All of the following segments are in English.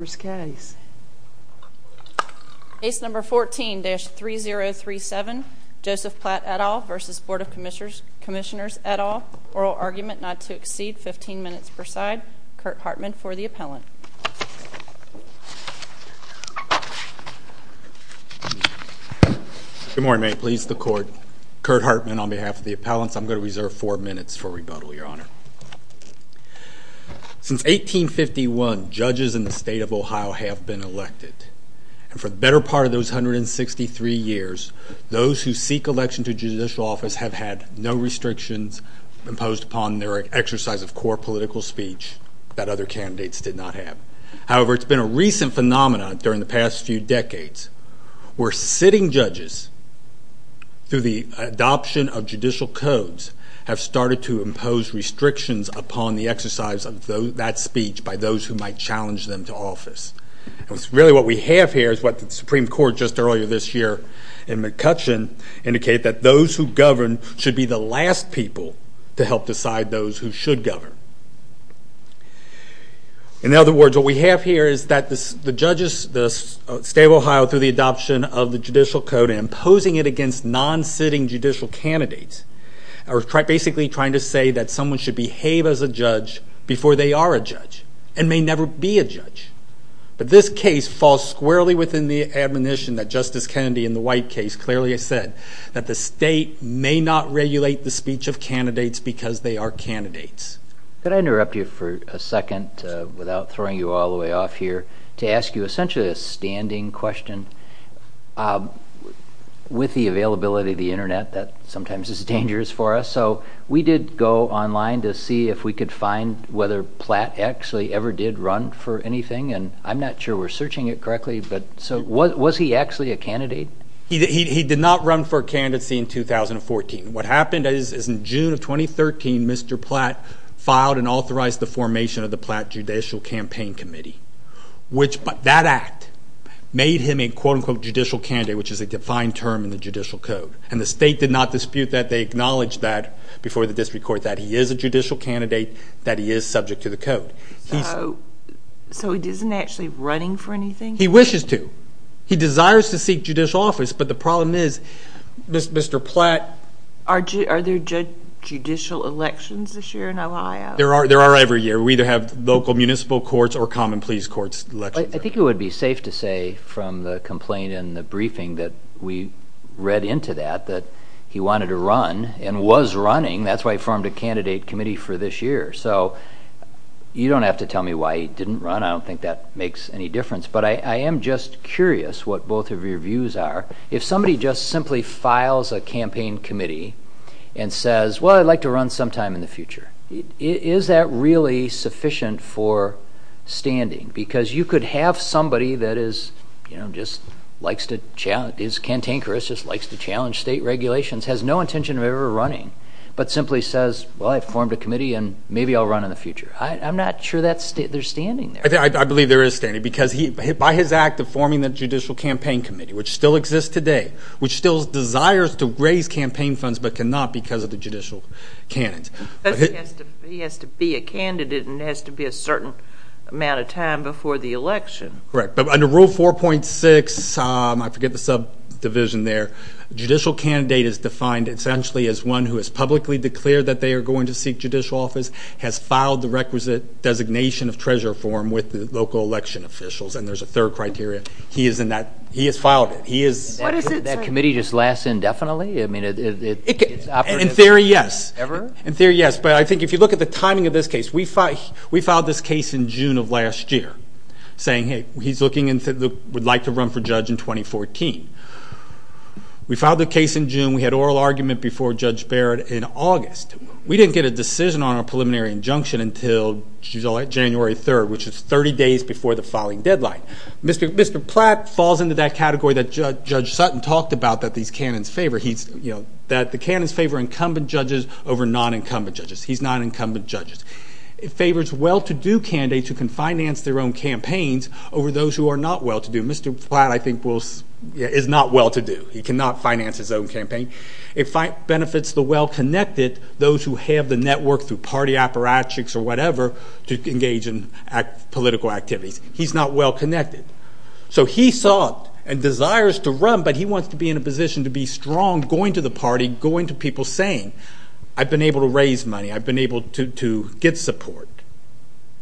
Case No. 14-3037 Joseph Platt, et al. v. Board of Commissioners, et al. Oral Argument Not to Exceed 15 Minutes per Side Kurt Hartman for the Appellant Good morning, may it please the Court. Kurt Hartman on behalf of the Appellants. I'm going to reserve four minutes for rebuttal, Your Honor. Since 1851, judges in the State of Ohio have been elected. And for the better part of those 163 years, those who seek election to judicial office have had no restrictions imposed upon their exercise of core political speech that other candidates did not have. However, it's been a recent phenomenon during the past few decades where sitting judges, through the adoption of judicial codes, have started to impose restrictions upon the exercise of that speech by those who might challenge them to office. And really what we have here is what the Supreme Court just earlier this year in McCutcheon indicated that those who govern should be the last people to help decide those who should govern. In other words, what we have here is that the judges, the State of Ohio, through the adoption of the judicial code and imposing it against non-sitting judicial candidates, are basically trying to say that someone should behave as a judge before they are a judge and may never be a judge. But this case falls squarely within the admonition that Justice Kennedy in the White case clearly has said that the state may not regulate the speech of candidates because they are candidates. Could I interrupt you for a second without throwing you all the way off here to ask you essentially a standing question? With the availability of the internet, that sometimes is dangerous for us. So we did go online to see if we could find whether Platt actually ever did run for anything. And I'm not sure we're searching it correctly, but so was he actually a candidate? He did not run for candidacy in 2014. What happened is in June of 2013, Mr. Platt filed and authorized the formation of the Platt Judicial Campaign Committee. That act made him a quote-unquote judicial candidate, which is a defined term in the judicial code. And the state did not dispute that. They acknowledged that before the district court that he is a judicial candidate, that he is subject to the code. So he isn't actually running for anything? He wishes to. He desires to seek judicial office, but the problem is Mr. Platt. Are there judicial elections this year in Ohio? There are every year. We either have local municipal courts or common pleas courts elections. I think it would be safe to say from the complaint in the briefing that we read into that that he wanted to run and was running. That's why he formed a candidate committee for this year. So you don't have to tell me why he didn't run. I don't think that makes any difference. But I am just curious what both of your views are. If somebody just simply files a campaign committee and says, well, I'd like to run sometime in the future, is that really sufficient for standing? Because you could have somebody that is, you know, just likes to challenge state regulations, has no intention of ever running, but simply says, well, I formed a committee and maybe I'll run in the future. I'm not sure they're standing there. I believe there is standing because by his act of forming the judicial campaign committee, which still exists today, which still desires to raise campaign funds but cannot because of the judicial canons. He has to be a candidate and it has to be a certain amount of time before the election. Correct. But under Rule 4.6, I forget the subdivision there, a judicial candidate is defined essentially as one who has publicly declared that they are going to seek judicial office, has filed the requisite designation of treasurer form with the local election officials, and there's a third criteria. He is in that. He has filed it. What does it say? That committee just lasts indefinitely? In theory, yes. Ever? In theory, yes. But I think if you look at the timing of this case, we filed this case in June of last year saying, hey, he's looking and would like to run for judge in 2014. We filed the case in June. We had oral argument before Judge Barrett in August. We didn't get a decision on our preliminary injunction until January 3rd, which is 30 days before the filing deadline. Mr. Platt falls into that category that Judge Sutton talked about that these canons favor. The canons favor incumbent judges over non-incumbent judges. He's non-incumbent judges. It favors well-to-do candidates who can finance their own campaigns over those who are not well-to-do. Mr. Platt, I think, is not well-to-do. He cannot finance his own campaign. It benefits the well-connected, those who have the network through party apparatchiks or whatever to engage in political activities. He's not well-connected. So he sought and desires to run, but he wants to be in a position to be strong going to the party, going to people saying, I've been able to raise money, I've been able to get support.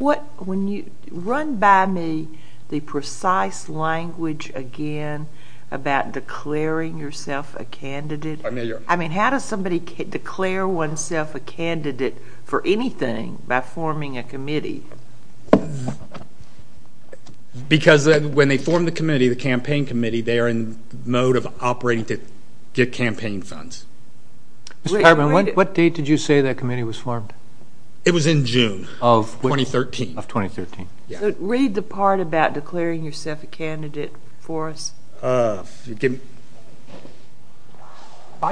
Run by me the precise language again about declaring yourself a candidate. I mean, how does somebody declare oneself a candidate for anything by forming a committee? Because when they form the committee, the campaign committee, they are in the mode of operating to get campaign funds. Mr. Pirman, what date did you say that committee was formed? It was in June of 2013. So read the part about declaring yourself a candidate for us. By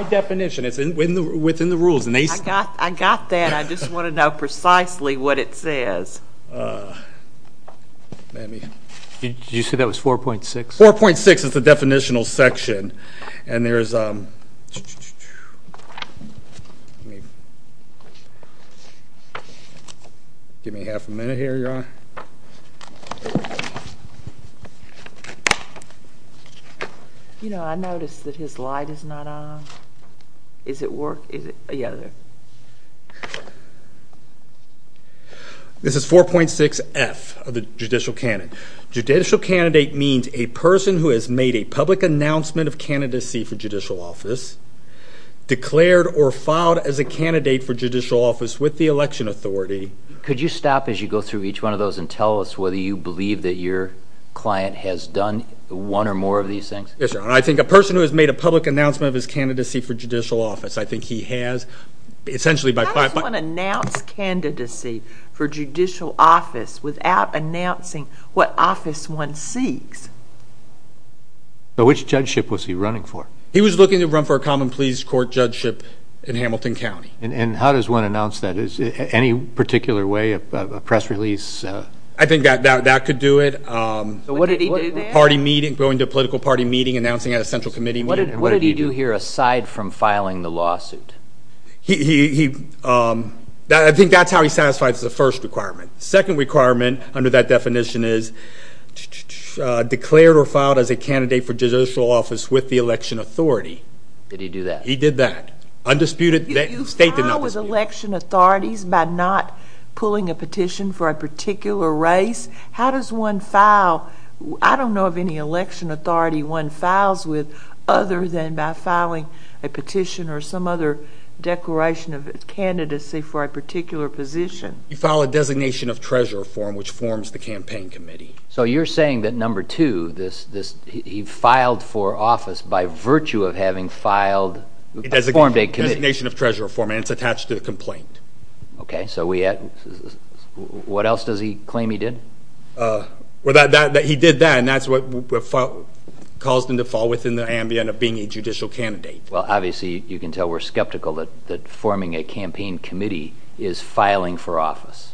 definition, it's within the rules. I got that. I just want to know precisely what it says. Did you say that was 4.6? 4.6 is the definitional section. Give me half a minute here, Your Honor. You know, I noticed that his light is not on. Is it work? Is it? Yeah. This is 4.6F of the judicial canon. Judicial candidate means a person who has made a public announcement of candidacy for judicial office, declared or filed as a candidate for judicial office with the election authority. Could you stop as you go through each one of those and tell us whether you believe that your client has done one or more of these things? Yes, Your Honor. I think a person who has made a public announcement of his candidacy for judicial office, I think he has essentially by 5. How does one announce candidacy for judicial office without announcing what office one seeks? Which judgeship was he running for? He was looking to run for a common pleas court judgeship in Hamilton County. And how does one announce that? Any particular way, a press release? I think that could do it. What did he do there? Going to a political party meeting, announcing at a central committee meeting. What did he do here aside from filing the lawsuit? I think that's how he satisfies the first requirement. Second requirement under that definition is declared or filed as a candidate for judicial office with the election authority. Did he do that? He did that. You file with election authorities by not pulling a petition for a particular race? How does one file? I don't know of any election authority one files with other than by filing a petition or some other declaration of candidacy for a particular position. You file a designation of treasurer form which forms the campaign committee. So you're saying that number two, he filed for office by virtue of having filed, formed a committee. Designation of treasurer form and it's attached to the complaint. What else does he claim he did? He did that and that's what caused him to fall within the ambient of being a judicial candidate. Well, obviously you can tell we're skeptical that forming a campaign committee is filing for office.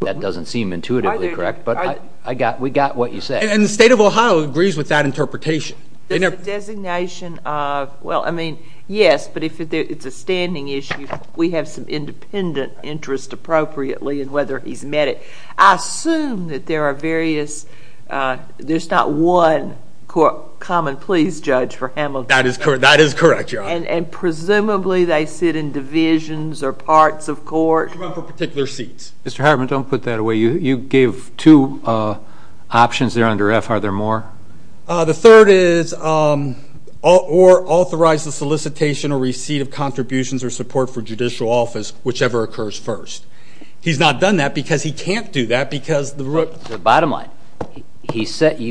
That doesn't seem intuitively correct, but we got what you said. And the state of Ohio agrees with that interpretation. There's a designation of, well, I mean, yes, but if it's a standing issue, we have some independent interest appropriately in whether he's met it. I assume that there are various, there's not one common pleas judge for Hamilton. That is correct, Your Honor. And presumably they sit in divisions or parts of court. For particular seats. Mr. Hartman, don't put that away. You gave two options there under F. Are there more? The third is, or authorize the solicitation or receipt of contributions or support for judicial office, whichever occurs first. He's not done that because he can't do that because the... Bottom line, you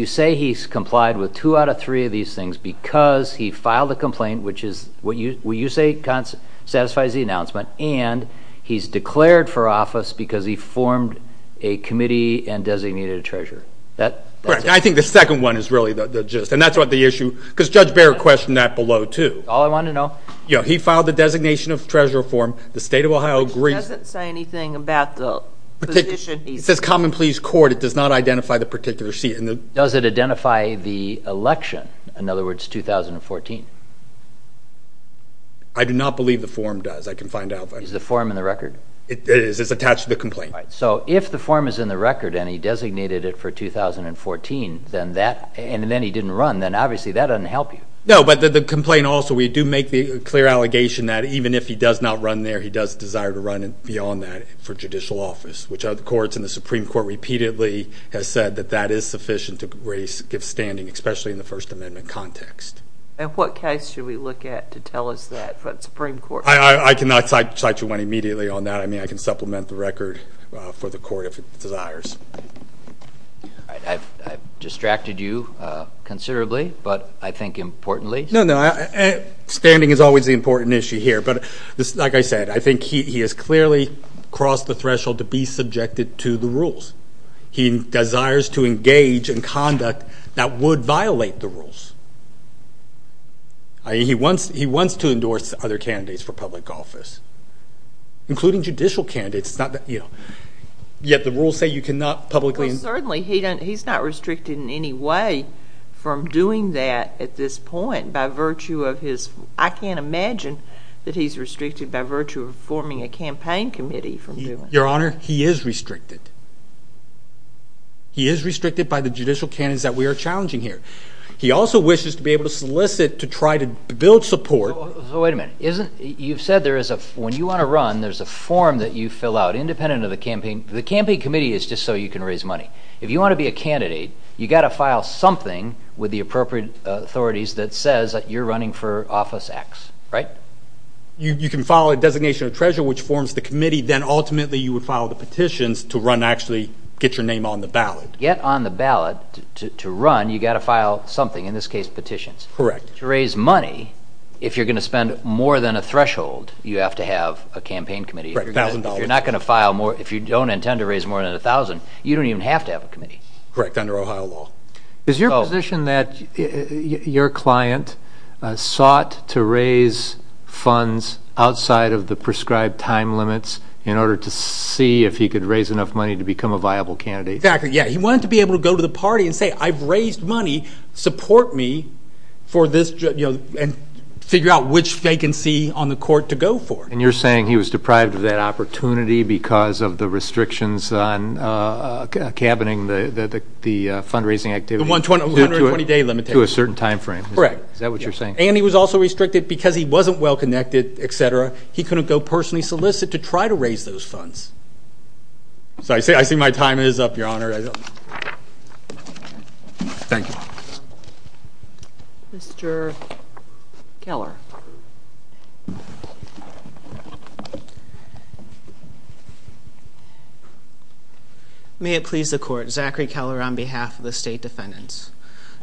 say he's complied with two out of three of these things because he filed a complaint, which is what you say satisfies the announcement, and he's declared for office because he formed a committee and designated a treasurer. That's it. I think the second one is really the gist, and that's what the issue, because Judge Barrett questioned that below, too. That's all I wanted to know. He filed the designation of treasurer form. The state of Ohio agrees. It doesn't say anything about the position. It says common pleas court. It does not identify the particular seat. Does it identify the election, in other words, 2014? I do not believe the form does. Is the form in the record? It is. It's attached to the complaint. All right, so if the form is in the record and he designated it for 2014 and then he didn't run, then obviously that doesn't help you. No, but the complaint also, we do make the clear allegation that even if he does not run there, he does desire to run beyond that for judicial office, which the courts and the Supreme Court repeatedly have said that that is sufficient to give standing, especially in the First Amendment context. And what case should we look at to tell us that, for the Supreme Court? I cannot cite you one immediately on that. I mean, I can supplement the record for the court if it desires. All right, I've distracted you considerably, but I think importantly. No, no, standing is always the important issue here. But like I said, I think he has clearly crossed the threshold to be subjected to the rules. He desires to engage in conduct that would violate the rules. I mean, he wants to endorse other candidates for public office, including judicial candidates, yet the rules say you cannot publicly endorse them. Well, certainly he's not restricted in any way from doing that at this point by virtue of his – I can't imagine that he's restricted by virtue of forming a campaign committee from doing that. Your Honor, he is restricted. He is restricted by the judicial candidates that we are challenging here. He also wishes to be able to solicit to try to build support. So wait a minute. Isn't – you've said there is a – when you want to run, there's a form that you fill out independent of the campaign. The campaign committee is just so you can raise money. If you want to be a candidate, you've got to file something with the appropriate authorities that says that you're running for Office X, right? You can file a designation of treasurer, which forms the committee. Then ultimately you would file the petitions to run and actually get your name on the ballot. To get on the ballot to run, you've got to file something, in this case petitions. Correct. To raise money, if you're going to spend more than a threshold, you have to have a campaign committee. $1,000. If you're not going to file more – if you don't intend to raise more than $1,000, you don't even have to have a committee. Correct, under Ohio law. Is your position that your client sought to raise funds outside of the prescribed time limits in order to see if he could raise enough money to become a viable candidate? Exactly, yeah. He wanted to be able to go to the party and say, I've raised money, support me, and figure out which vacancy on the court to go for. And you're saying he was deprived of that opportunity because of the restrictions on cabining the fundraising activity? The 120-day limit. To a certain time frame. Correct. Is that what you're saying? And he was also restricted because he wasn't well-connected, et cetera. He couldn't go personally solicit to try to raise those funds. I see my time is up, Your Honor. Thank you. Mr. Keller. May it please the Court. Zachary Keller on behalf of the State Defendants.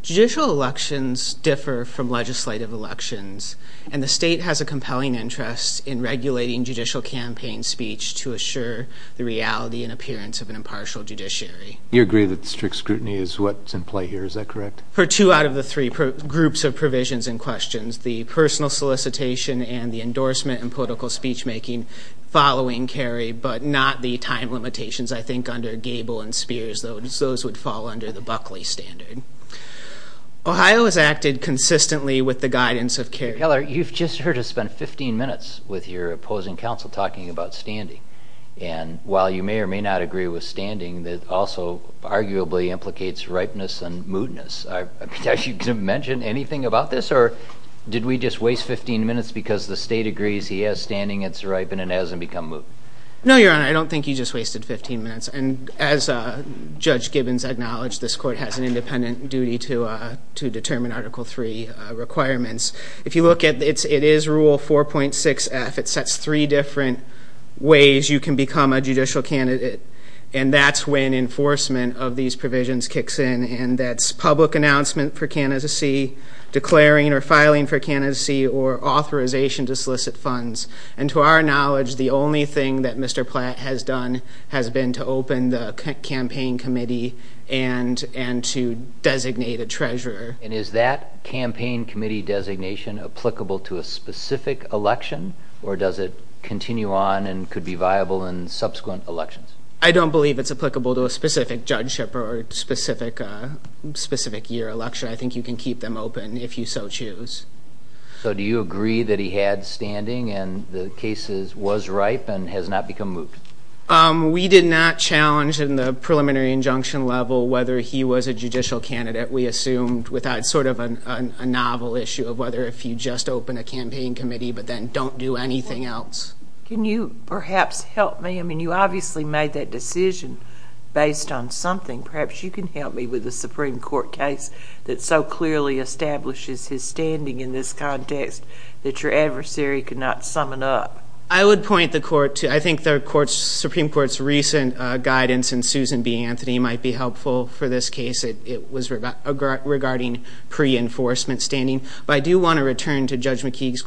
Judicial elections differ from legislative elections, and the state has a compelling interest in regulating judicial campaign speech to assure the reality and appearance of an impartial judiciary. You agree that strict scrutiny is what's in play here, is that correct? For two out of the three groups of provisions in question, the personal solicitation and the endorsement and political speech-making following Kerry, but not the time limitations, I think, under Gable and Spears. Those would fall under the Buckley standard. Ohio has acted consistently with the guidance of Kerry. Keller, you've just heard us spend 15 minutes with your opposing counsel talking about standing, and while you may or may not agree with standing, that also arguably implicates ripeness and moodiness. Did you mention anything about this, or did we just waste 15 minutes because the state agrees he has standing, it's ripe, and it hasn't become moody? No, Your Honor, I don't think you just wasted 15 minutes. And as Judge Gibbons acknowledged, this court has an independent duty to determine Article III requirements. If you look at it, it is Rule 4.6F. It sets three different ways you can become a judicial candidate, and that's when enforcement of these provisions kicks in, and that's public announcement for candidacy, declaring or filing for candidacy, or authorization to solicit funds. And to our knowledge, the only thing that Mr. Platt has done has been to open the campaign committee and to designate a treasurer. And is that campaign committee designation applicable to a specific election, or does it continue on and could be viable in subsequent elections? I don't believe it's applicable to a specific judgeship or a specific year election. I think you can keep them open if you so choose. So do you agree that he had standing and the case was ripe and has not become moot? We did not challenge in the preliminary injunction level whether he was a judicial candidate. We assumed without sort of a novel issue of whether if you just open a campaign committee but then don't do anything else. Can you perhaps help me? I mean, you obviously made that decision based on something. Perhaps you can help me with a Supreme Court case that so clearly establishes his standing in this context that your adversary could not summon up. I would point the Court to I think the Supreme Court's recent guidance in Susan B. Anthony might be helpful for this case. It was regarding pre-enforcement standing. But I do want to return to Judge McKeague's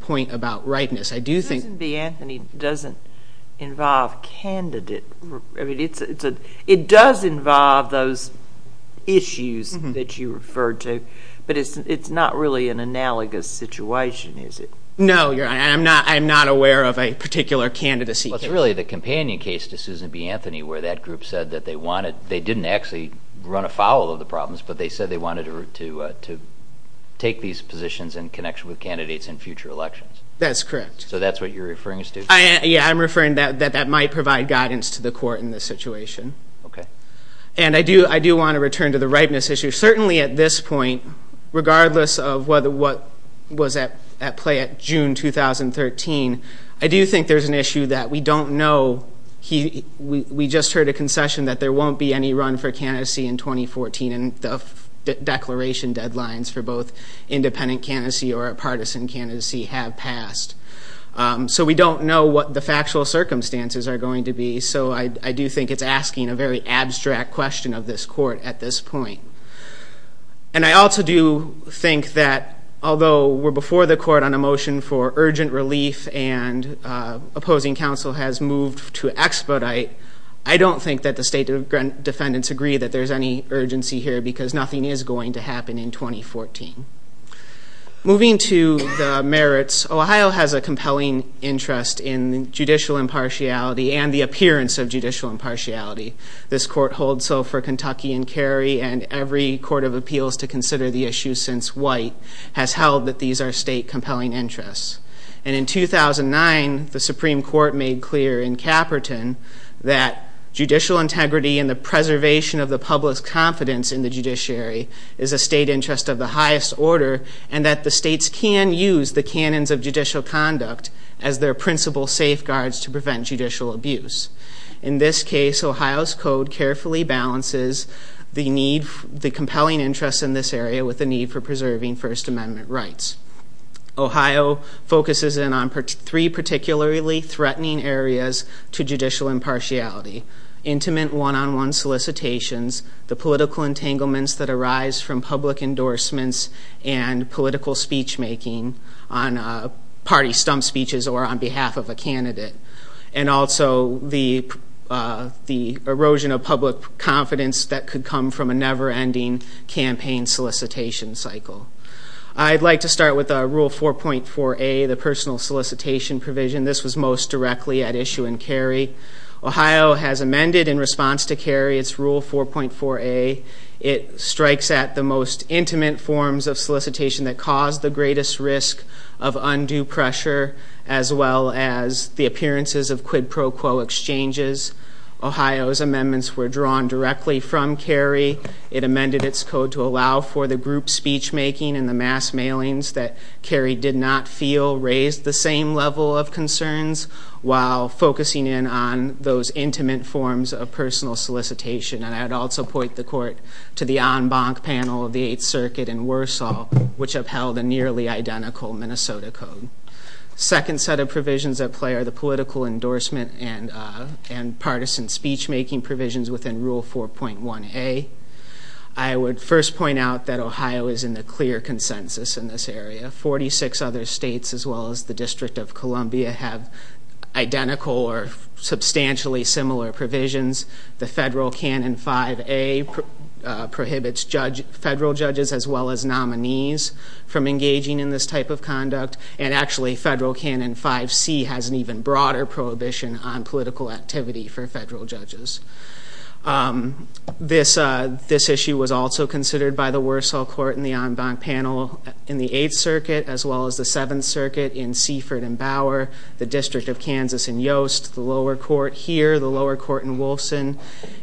point about rightness. I do think— Susan B. Anthony doesn't involve candidate. It does involve those issues that you referred to, but it's not really an analogous situation, is it? No, I'm not aware of a particular candidacy case. Well, it's really the companion case to Susan B. Anthony where that group said that they wanted— they didn't actually run afoul of the problems, but they said they wanted to take these positions in connection with candidates in future elections. That's correct. So that's what you're referring us to? Yeah, I'm referring that that might provide guidance to the Court in this situation. Okay. And I do want to return to the rightness issue. Certainly at this point, regardless of what was at play at June 2013, I do think there's an issue that we don't know. We just heard a concession that there won't be any run for candidacy in 2014, and the declaration deadlines for both independent candidacy or a partisan candidacy have passed. So we don't know what the factual circumstances are going to be, so I do think it's asking a very abstract question of this Court at this point. And I also do think that although we're before the Court on a motion for urgent relief and opposing counsel has moved to expedite, I don't think that the State Defendants agree that there's any urgency here because nothing is going to happen in 2014. Moving to the merits, Ohio has a compelling interest in judicial impartiality and the appearance of judicial impartiality. This Court holds so for Kentucky and Cary, and every Court of Appeals to consider the issue since White has held that these are State compelling interests. And in 2009, the Supreme Court made clear in Caperton that judicial integrity and the preservation of the public's confidence in the judiciary is a State interest of the highest order, and that the States can use the canons of judicial conduct as their principal safeguards to prevent judicial abuse. In this case, Ohio's Code carefully balances the compelling interest in this area with the need for preserving First Amendment rights. Ohio focuses in on three particularly threatening areas to judicial impartiality. Intimate one-on-one solicitations, the political entanglements that arise from public endorsements and political speech-making on party stump speeches or on behalf of a candidate, and also the erosion of public confidence that could come from a never-ending campaign solicitation cycle. I'd like to start with Rule 4.4a, the personal solicitation provision. This was most directly at issue in Cary. Ohio has amended in response to Cary its Rule 4.4a. It strikes at the most intimate forms of solicitation that cause the greatest risk of undue pressure, as well as the appearances of quid pro quo exchanges. Ohio's amendments were drawn directly from Cary. It amended its code to allow for the group speech-making and the mass mailings that Cary did not feel raised the same level of concerns while focusing in on those intimate forms of personal solicitation. And I'd also point the court to the en banc panel of the Eighth Circuit in Warsaw, which upheld a nearly identical Minnesota code. The second set of provisions at play are the political endorsement and partisan speech-making provisions within Rule 4.1a. I would first point out that Ohio is in the clear consensus in this area. Forty-six other states, as well as the District of Columbia, have identical or substantially similar provisions. The federal canon 5a prohibits federal judges, as well as nominees, from engaging in this type of conduct. And actually, federal canon 5c has an even broader prohibition on political activity for federal judges. This issue was also considered by the Warsaw court in the en banc panel in the Eighth Circuit, as well as the Seventh Circuit in Seaford and Bower, the District of Kansas in Yost, the lower court here, the lower court in Wolfson,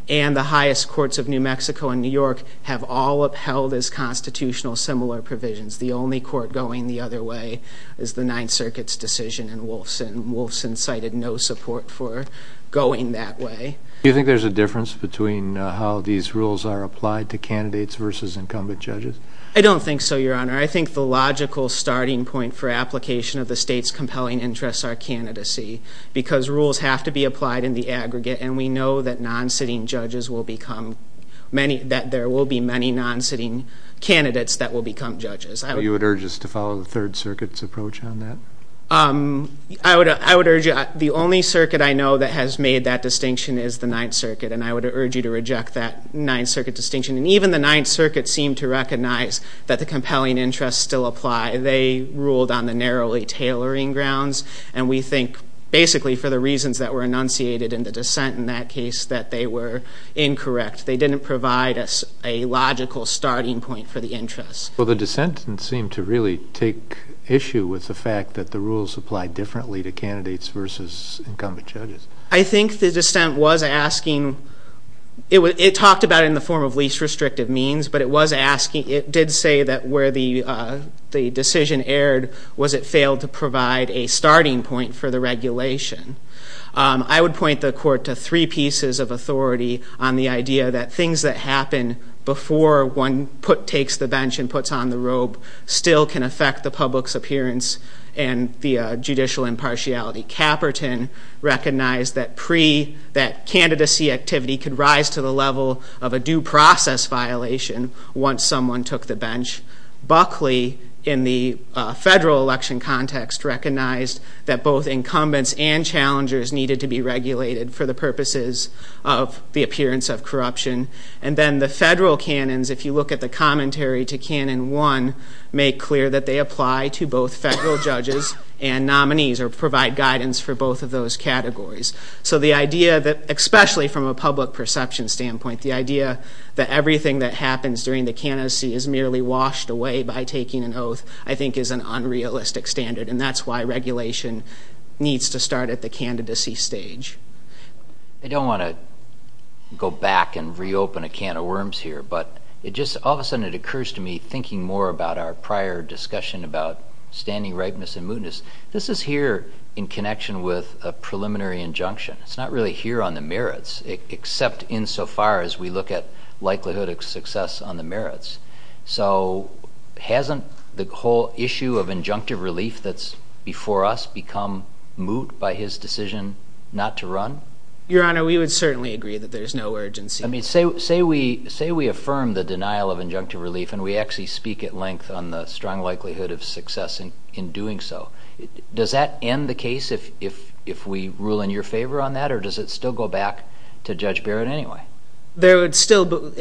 and the highest courts of New Mexico and New York have all upheld as constitutional similar provisions. The only court going the other way is the Ninth Circuit's decision in Wolfson. Wolfson cited no support for going that way. Do you think there's a difference between how these rules are applied to candidates versus incumbent judges? I don't think so, Your Honor. I think the logical starting point for application of the state's compelling interests are candidacy, because rules have to be applied in the aggregate, and we know that non-sitting judges will become many, that there will be many non-sitting candidates that will become judges. Are you at urges to follow the Third Circuit's approach on that? I would urge you, the only circuit I know that has made that distinction is the Ninth Circuit, and I would urge you to reject that Ninth Circuit distinction. And even the Ninth Circuit seemed to recognize that the compelling interests still apply. They ruled on the narrowly tailoring grounds, and we think basically for the reasons that were enunciated in the dissent in that case that they were incorrect. They didn't provide us a logical starting point for the interests. Well, the dissent didn't seem to really take issue with the fact that the rules apply differently to candidates versus incumbent judges. I think the dissent was asking, it talked about it in the form of least restrictive means, but it did say that where the decision erred was it failed to provide a starting point for the regulation. I would point the court to three pieces of authority on the idea that things that happen before one takes the bench and puts on the robe still can affect the public's appearance and the judicial impartiality. Caperton recognized that candidacy activity could rise to the level of a due process violation once someone took the bench. Buckley, in the federal election context, recognized that both incumbents and challengers needed to be regulated for the purposes of the appearance of corruption. And then the federal canons, if you look at the commentary to Canon 1, make clear that they apply to both federal judges and nominees or provide guidance for both of those categories. So the idea that, especially from a public perception standpoint, the idea that everything that happens during the candidacy is merely washed away by taking an oath, I think is an unrealistic standard, and that's why regulation needs to start at the candidacy stage. I don't want to go back and reopen a can of worms here, but all of a sudden it occurs to me, thinking more about our prior discussion about standing ripeness and mootness, this is here in connection with a preliminary injunction. It's not really here on the merits, except insofar as we look at likelihood of success on the merits. So hasn't the whole issue of injunctive relief that's before us become moot by his decision not to run? Your Honor, we would certainly agree that there's no urgency. Say we affirm the denial of injunctive relief, and we actually speak at length on the strong likelihood of success in doing so. Does that end the case if we rule in your favor on that, or does it still go back to Judge Barrett anyway? It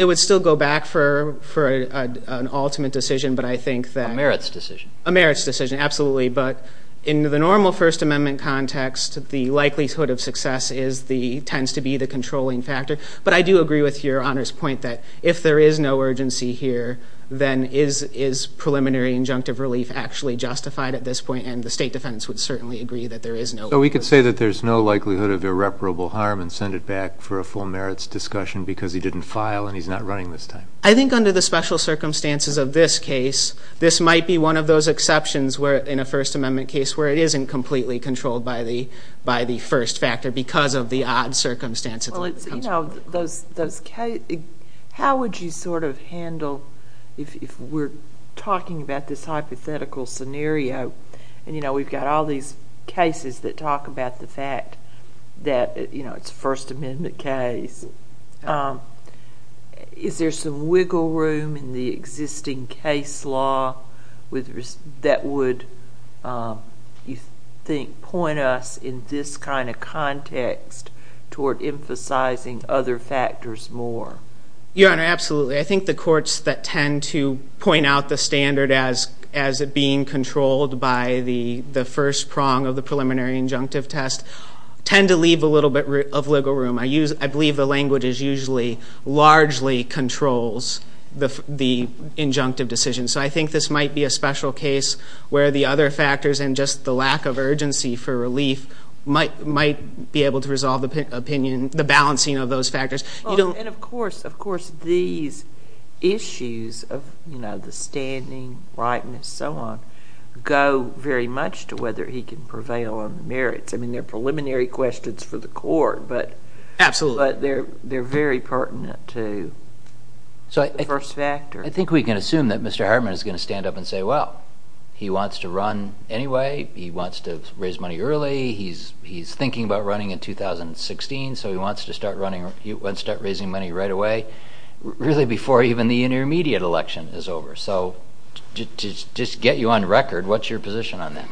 would still go back for an ultimate decision, but I think that... A merits decision. A merits decision, absolutely. But in the normal First Amendment context, the likelihood of success tends to be the controlling factor. But I do agree with Your Honor's point that if there is no urgency here, then is preliminary injunctive relief actually justified at this point? And the State Defendants would certainly agree that there is no... So we could say that there's no likelihood of irreparable harm and send it back for a full merits discussion because he didn't file and he's not running this time. I think under the special circumstances of this case, this might be one of those exceptions in a First Amendment case where it isn't completely controlled by the first factor because of the odd circumstances. How would you sort of handle... If we're talking about this hypothetical scenario and we've got all these cases that talk about the fact that it's a First Amendment case, is there some wiggle room in the existing case law that would, you think, point us in this kind of context toward emphasizing other factors more? Your Honor, absolutely. I think the courts that tend to point out the standard as it being controlled by the first prong of the preliminary injunctive test tend to leave a little bit of wiggle room. I believe the language usually largely controls the injunctive decision. So I think this might be a special case where the other factors and just the lack of urgency for relief might be able to resolve the opinion, the balancing of those factors. And, of course, these issues of the standing, rightness, and so on go very much to whether he can prevail on the merits. I mean, they're preliminary questions for the court, but they're very pertinent to the first factor. I think we can assume that Mr. Herman is going to stand up and say, well, he wants to run anyway, he wants to raise money early, he's thinking about running in 2016, so he wants to start raising money right away, really before even the intermediate election is over. So to just get you on record, what's your position on that?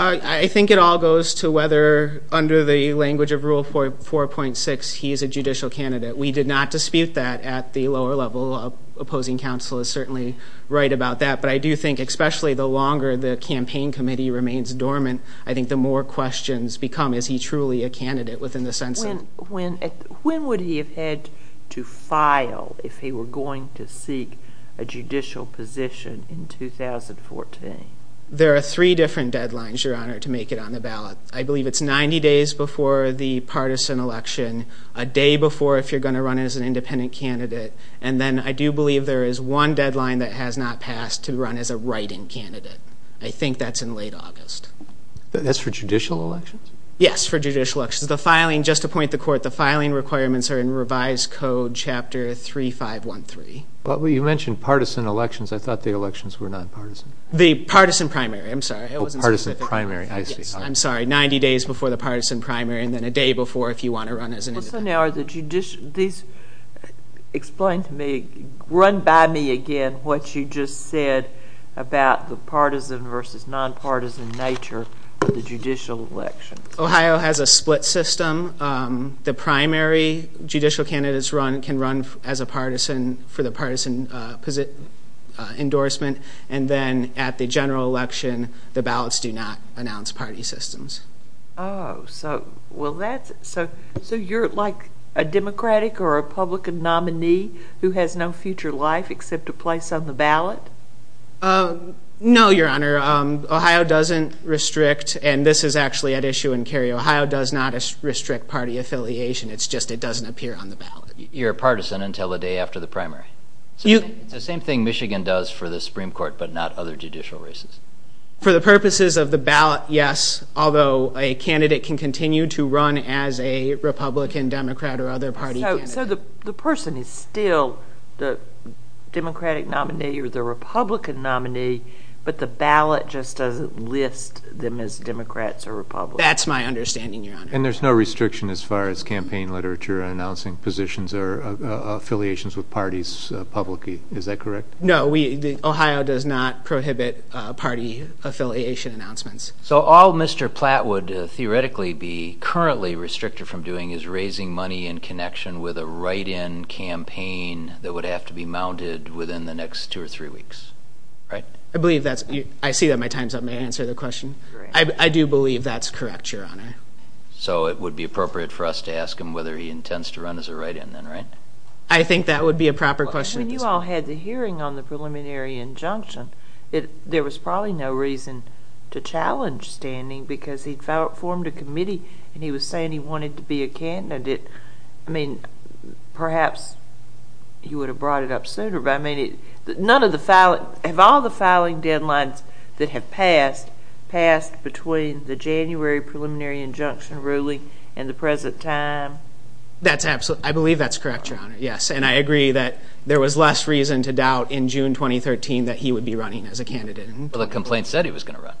I think it all goes to whether, under the language of Rule 4.6, he is a judicial candidate. We did not dispute that at the lower level. Opposing counsel is certainly right about that. But I do think, especially the longer the campaign committee remains dormant, I think the more questions become, is he truly a candidate within the sense of? When would he have had to file if he were going to seek a judicial position in 2014? There are three different deadlines, Your Honor, to make it on the ballot. I believe it's 90 days before the partisan election, a day before if you're going to run as an independent candidate, and then I do believe there is one deadline that has not passed, to run as a write-in candidate. I think that's in late August. That's for judicial elections? Yes, for judicial elections. The filing, just to point the court, the filing requirements are in Revised Code, Chapter 3513. But you mentioned partisan elections. I thought the elections were nonpartisan. The partisan primary, I'm sorry. The partisan primary, I see. I'm sorry, 90 days before the partisan primary, and then a day before if you want to run as an independent. Explain to me, run by me again, what you just said about the partisan versus nonpartisan nature of the judicial election. Ohio has a split system. The primary judicial candidates can run as a partisan for the partisan endorsement, and then at the general election, the ballots do not announce party systems. Oh, so you're like a Democratic or a Republican nominee who has no future life except a place on the ballot? No, Your Honor. Ohio doesn't restrict, and this is actually at issue in Cary. Ohio does not restrict party affiliation. It's just it doesn't appear on the ballot. You're a partisan until the day after the primary. It's the same thing Michigan does for the Supreme Court, but not other judicial races. For the purposes of the ballot, yes, although a candidate can continue to run as a Republican, Democrat, or other party candidate. So the person is still the Democratic nominee or the Republican nominee, but the ballot just doesn't list them as Democrats or Republicans. That's my understanding, Your Honor. And there's no restriction as far as campaign literature announcing positions or affiliations with parties publicly. Is that correct? No, Ohio does not prohibit party affiliation announcements. So all Mr. Platt would theoretically be currently restricted from doing is raising money in connection with a write-in campaign that would have to be mounted within the next two or three weeks, right? I see that my time's up. May I answer the question? I do believe that's correct, Your Honor. So it would be appropriate for us to ask him whether he intends to run as a write-in then, right? I think that would be a proper question. When you all had the hearing on the preliminary injunction, there was probably no reason to challenge standing because he'd formed a committee and he was saying he wanted to be a candidate. I mean, perhaps he would have brought it up sooner. Have all the filing deadlines that have passed passed between the January preliminary injunction ruling and the present time? I believe that's correct, Your Honor, yes. And I agree that there was less reason to doubt in June 2013 that he would be running as a candidate. Well, the complaint said he was going to run.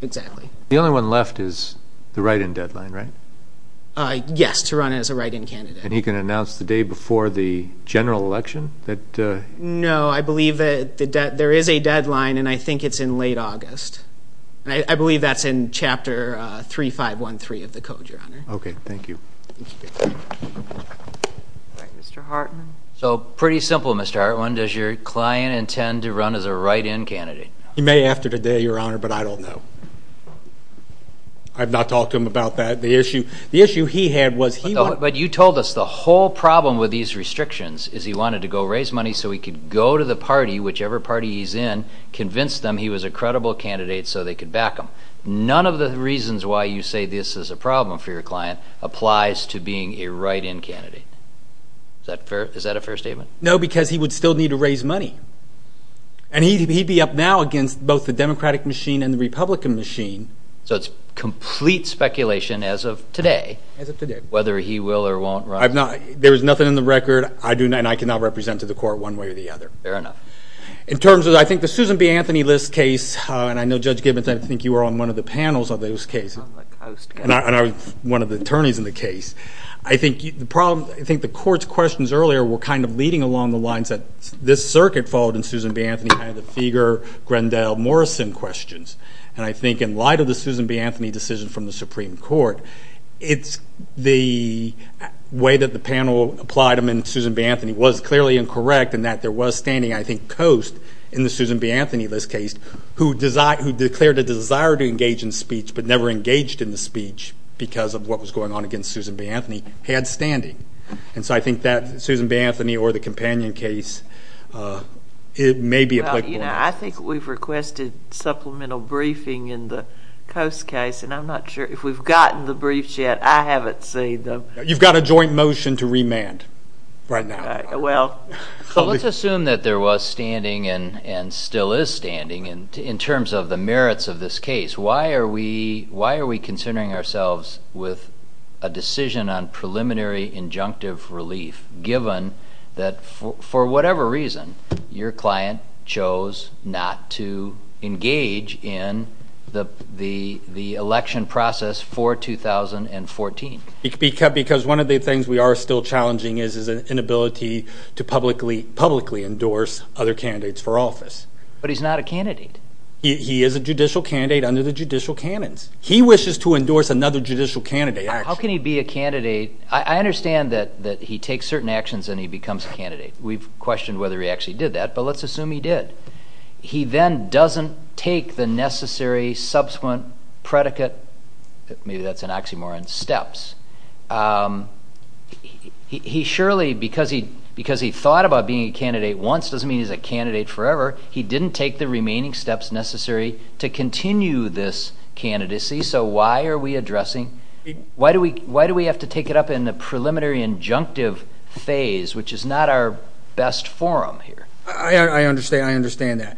Exactly. The only one left is the write-in deadline, right? Yes, to run as a write-in candidate. And he can announce the day before the general election? No, I believe that there is a deadline, and I think it's in late August. I believe that's in Chapter 3513 of the Code, Your Honor. Okay, thank you. All right, Mr. Hartman. So pretty simple, Mr. Hartman. Does your client intend to run as a write-in candidate? He may after today, Your Honor, but I don't know. I've not talked to him about that. The issue he had was he wanted to go to the party, whichever party he's in, convince them he was a credible candidate so they could back him. None of the reasons why you say this is a problem for your client applies to being a write-in candidate. Is that a fair statement? No, because he would still need to raise money. And he'd be up now against both the Democratic machine and the Republican machine. So it's complete speculation as of today whether he will or won't run. There is nothing in the record, and I cannot represent to the court one way or the other. Fair enough. In terms of I think the Susan B. Anthony list case, and I know, Judge Gibbons, I think you were on one of the panels on those cases. I was on the Coast. And I was one of the attorneys in the case. I think the court's questions earlier were kind of leading along the lines that this circuit followed in Susan B. Anthony, kind of the Fieger, Grendel, Morrison questions. And I think in light of the Susan B. Anthony decision from the Supreme Court, it's the way that the panel applied them in Susan B. Anthony was clearly incorrect in that there was standing I think Coast in the Susan B. Anthony list case who declared a desire to engage in speech but never engaged in the speech because of what was going on against Susan B. Anthony had standing. And so I think that Susan B. Anthony or the companion case, it may be applicable. I think we've requested supplemental briefing in the Coast case, and I'm not sure if we've gotten the briefs yet. I haven't seen them. You've got a joint motion to remand right now. Let's assume that there was standing and still is standing in terms of the merits of this case. Why are we considering ourselves with a decision on preliminary injunctive relief given that for whatever reason your client chose not to engage in the election process for 2014? Because one of the things we are still challenging is an inability to publicly endorse other candidates for office. But he's not a candidate. He is a judicial candidate under the judicial canons. He wishes to endorse another judicial candidate. How can he be a candidate? I understand that he takes certain actions and he becomes a candidate. We've questioned whether he actually did that, but let's assume he did. He then doesn't take the necessary subsequent predicate. Maybe that's an oxymoron. Steps. He surely, because he thought about being a candidate once, doesn't mean he's a candidate forever. He didn't take the remaining steps necessary to continue this candidacy. So why are we addressing? Why do we have to take it up in the preliminary injunctive phase, which is not our best forum here? I understand that.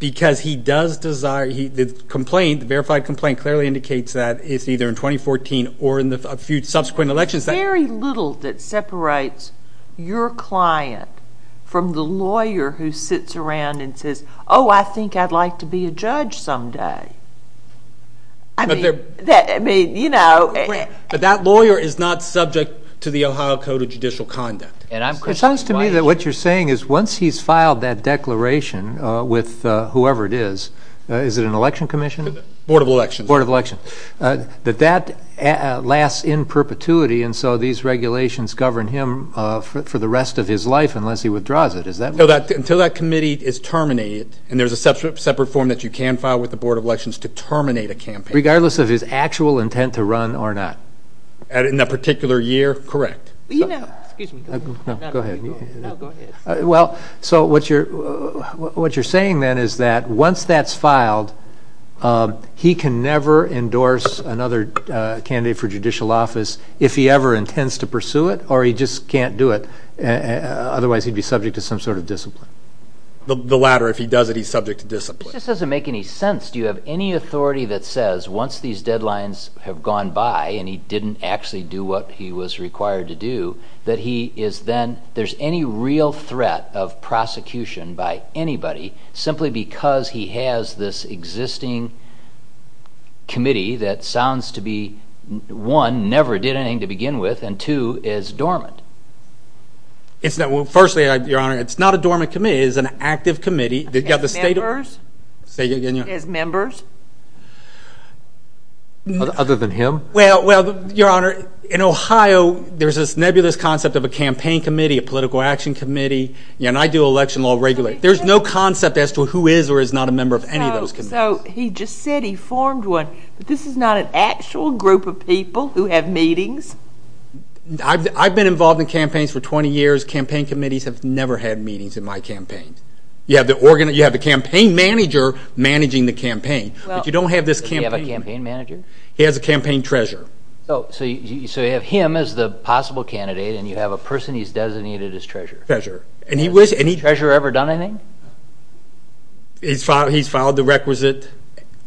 Because he does desire, the complaint, the verified complaint clearly indicates that it's either in 2014 or in the subsequent elections. There's very little that separates your client from the lawyer who sits around and says, oh, I think I'd like to be a judge someday. I mean, you know. But that lawyer is not subject to the Ohio Code of Judicial Conduct. It sounds to me that what you're saying is once he's filed that declaration with whoever it is, is it an election commission? Board of Elections. Board of Elections. That that lasts in perpetuity and so these regulations govern him for the rest of his life unless he withdraws it. Until that committee is terminated and there's a separate form that you can file with the Board of Elections to terminate a campaign. Regardless of his actual intent to run or not. In that particular year? Correct. Go ahead. Well, so what you're saying then is that once that's filed, he can never endorse another candidate for judicial office if he ever intends to pursue it or he just can't do it. Otherwise, he'd be subject to some sort of discipline. The latter. If he does it, he's subject to discipline. This doesn't make any sense. Do you have any authority that says once these deadlines have gone by and he didn't actually do what he was required to do, that he is then, there's any real threat of prosecution by anybody simply because he has this existing committee that sounds to be, one, never did anything to begin with, and two, is dormant? Firstly, Your Honor, it's not a dormant committee. It's an active committee. As members? Other than him? Well, Your Honor, in Ohio, there's this nebulous concept of a campaign committee, a political action committee, and I do election law regularly. There's no concept as to who is or is not a member of any of those committees. So he just said he formed one, but this is not an actual group of people who have meetings? I've been involved in campaigns for 20 years. Campaign committees have never had meetings in my campaigns. You have the campaign manager managing the campaign, but you don't have this campaign. Does he have a campaign manager? He has a campaign treasurer. So you have him as the possible candidate and you have a person he's designated as treasurer? Treasurer. Has the treasurer ever done anything? He's filed the requisite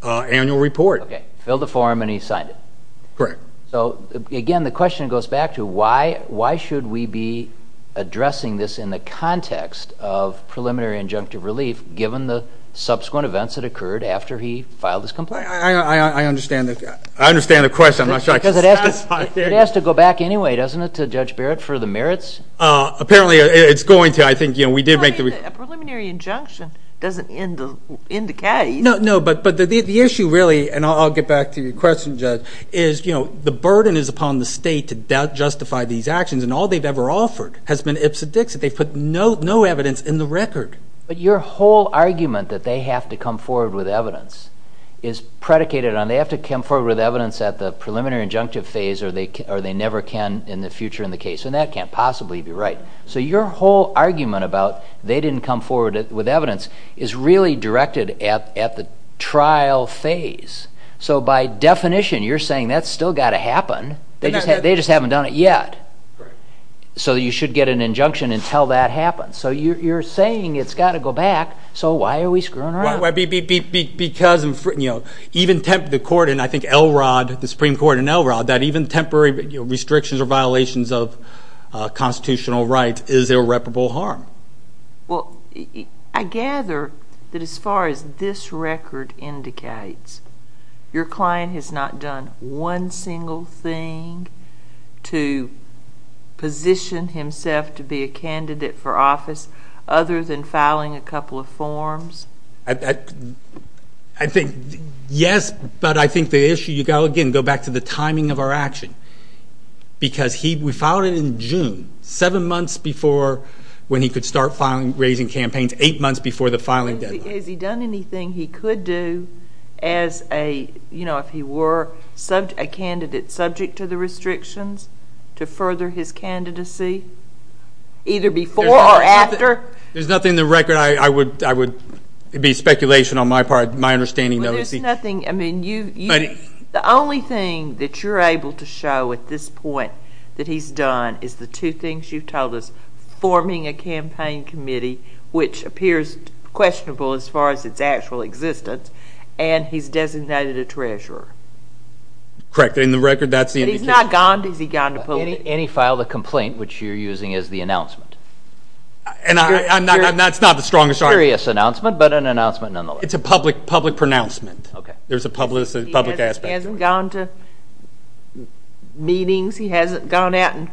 annual report. Okay. Filled a form and he signed it. Correct. So, again, the question goes back to why should we be addressing this in the context of preliminary injunctive relief given the subsequent events that occurred after he filed his complaint? I understand the question. It has to go back anyway, doesn't it, to Judge Barrett for the merits? Apparently it's going to. A preliminary injunction doesn't end the case. No, but the issue really, and I'll get back to your question, Judge, is the burden is upon the state to justify these actions, and all they've ever offered has been ips and dicks. They've put no evidence in the record. But your whole argument that they have to come forward with evidence is predicated on they have to come forward with evidence at the preliminary injunctive phase or they never can in the future in the case, and that can't possibly be right. So your whole argument about they didn't come forward with evidence is really directed at the trial phase. So by definition, you're saying that's still got to happen. They just haven't done it yet. So you should get an injunction until that happens. So you're saying it's got to go back. So why are we screwing around? Because, you know, even the court in, I think, Elrod, the Supreme Court in Elrod, that even temporary restrictions or violations of constitutional rights is irreparable harm. Well, I gather that as far as this record indicates, your client has not done one single thing to position himself to be a candidate for office I think, yes, but I think the issue, you've got to, again, go back to the timing of our action. Because we filed it in June, seven months before when he could start raising campaigns, eight months before the filing deadline. Has he done anything he could do as a, you know, if he were a candidate subject to the restrictions to further his candidacy, either before or after? There's nothing in the record. It would be speculation on my part, my understanding. Well, there's nothing. I mean, the only thing that you're able to show at this point that he's done is the two things you've told us, forming a campaign committee, which appears questionable as far as its actual existence, and he's designated a treasurer. Correct. In the record, that's the indication. Has he gone to public? And he filed a complaint, which you're using as the announcement. And that's not the strongest argument. Serious announcement, but an announcement nonetheless. It's a public pronouncement. There's a public aspect. He hasn't gone to meetings. He hasn't gone out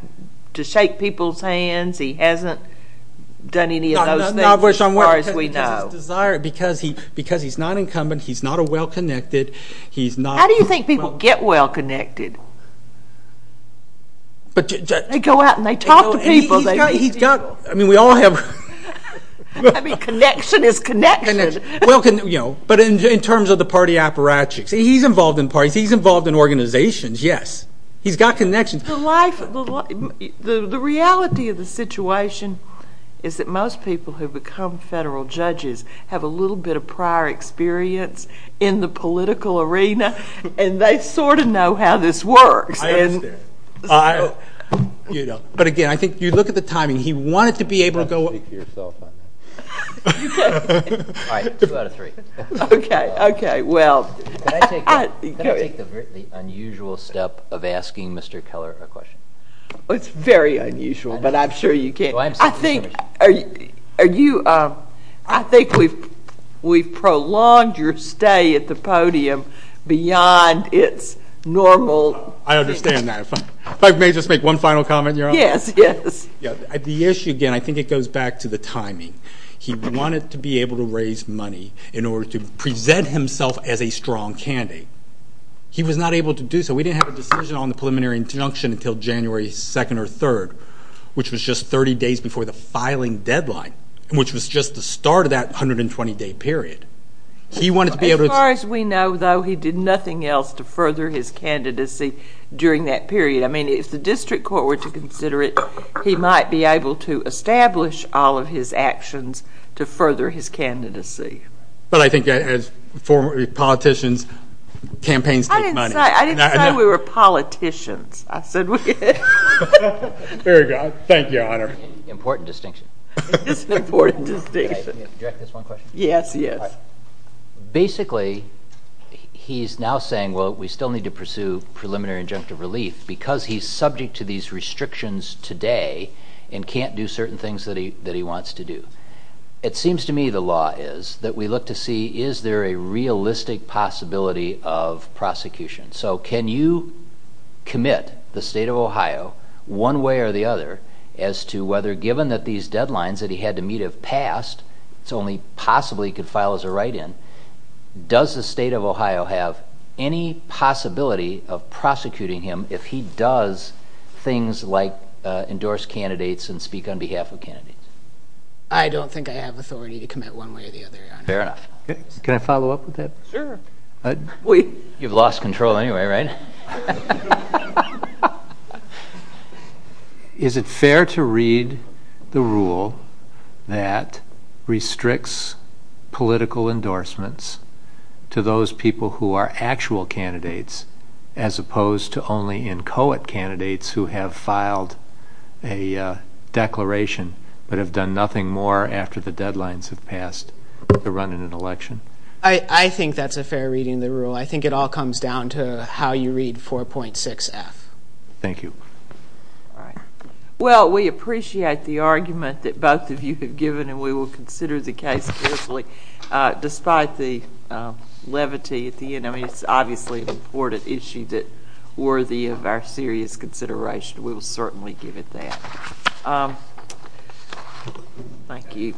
to shake people's hands. He hasn't done any of those things as far as we know. Because he's not incumbent. He's not a well-connected. They go out and they talk to people. I mean, we all have. I mean, connection is connection. But in terms of the party apparatchiks, he's involved in parties. He's involved in organizations, yes. He's got connections. The reality of the situation is that most people who become federal judges have a little bit of prior experience in the political arena, and they sort of know how this works. I understand. But again, I think you look at the timing. He wanted to be able to go up. Okay, well. Can I take the unusual step of asking Mr. Keller a question? It's very unusual, but I'm sure you can. I think we've prolonged your stay at the podium beyond its normal. I understand that. If I may just make one final comment, Your Honor. Yes, yes. The issue, again, I think it goes back to the timing. He wanted to be able to raise money in order to present himself as a strong candidate. He was not able to do so. We didn't have a decision on the preliminary injunction until January 2nd or 3rd, which was just 30 days before the filing deadline, which was just the start of that 120-day period. As far as we know, though, he did nothing else to further his candidacy during that period. I mean, if the district court were to consider it, he might be able to establish all of his actions to further his candidacy. But I think as politicians, campaigns take money. I didn't say we were politicians. I said we could. There you go. Thank you, Your Honor. Important distinction. It's an important distinction. Yes, yes. Basically, he's now saying, well, we still need to pursue preliminary injunctive relief because he's subject to these restrictions today and can't do certain things that he wants to do. It seems to me the law is that we look to see is there a realistic possibility of prosecution. So can you commit the state of Ohio, one way or the other, as to whether given that these deadlines that he had to meet have passed, it's only possibly he could file as a write-in, does the state of Ohio have any possibility of prosecuting him if he does things like endorse candidates and speak on behalf of candidates? I don't think I have authority to commit one way or the other, Your Honor. Fair enough. Can I follow up with that? Sure. You've lost control anyway, right? Is it fair to read the rule that restricts political endorsements to those people who are actual candidates as opposed to only inchoate candidates who have filed a declaration but have done nothing more after the deadlines have passed to run in an election? Well, I think it all comes down to how you read 4.6F. Thank you. All right. Well, we appreciate the argument that both of you have given, and we will consider the case carefully. Despite the levity at the end, I mean it's obviously an important issue that's worthy of our serious consideration. We will certainly give it that. Thank you.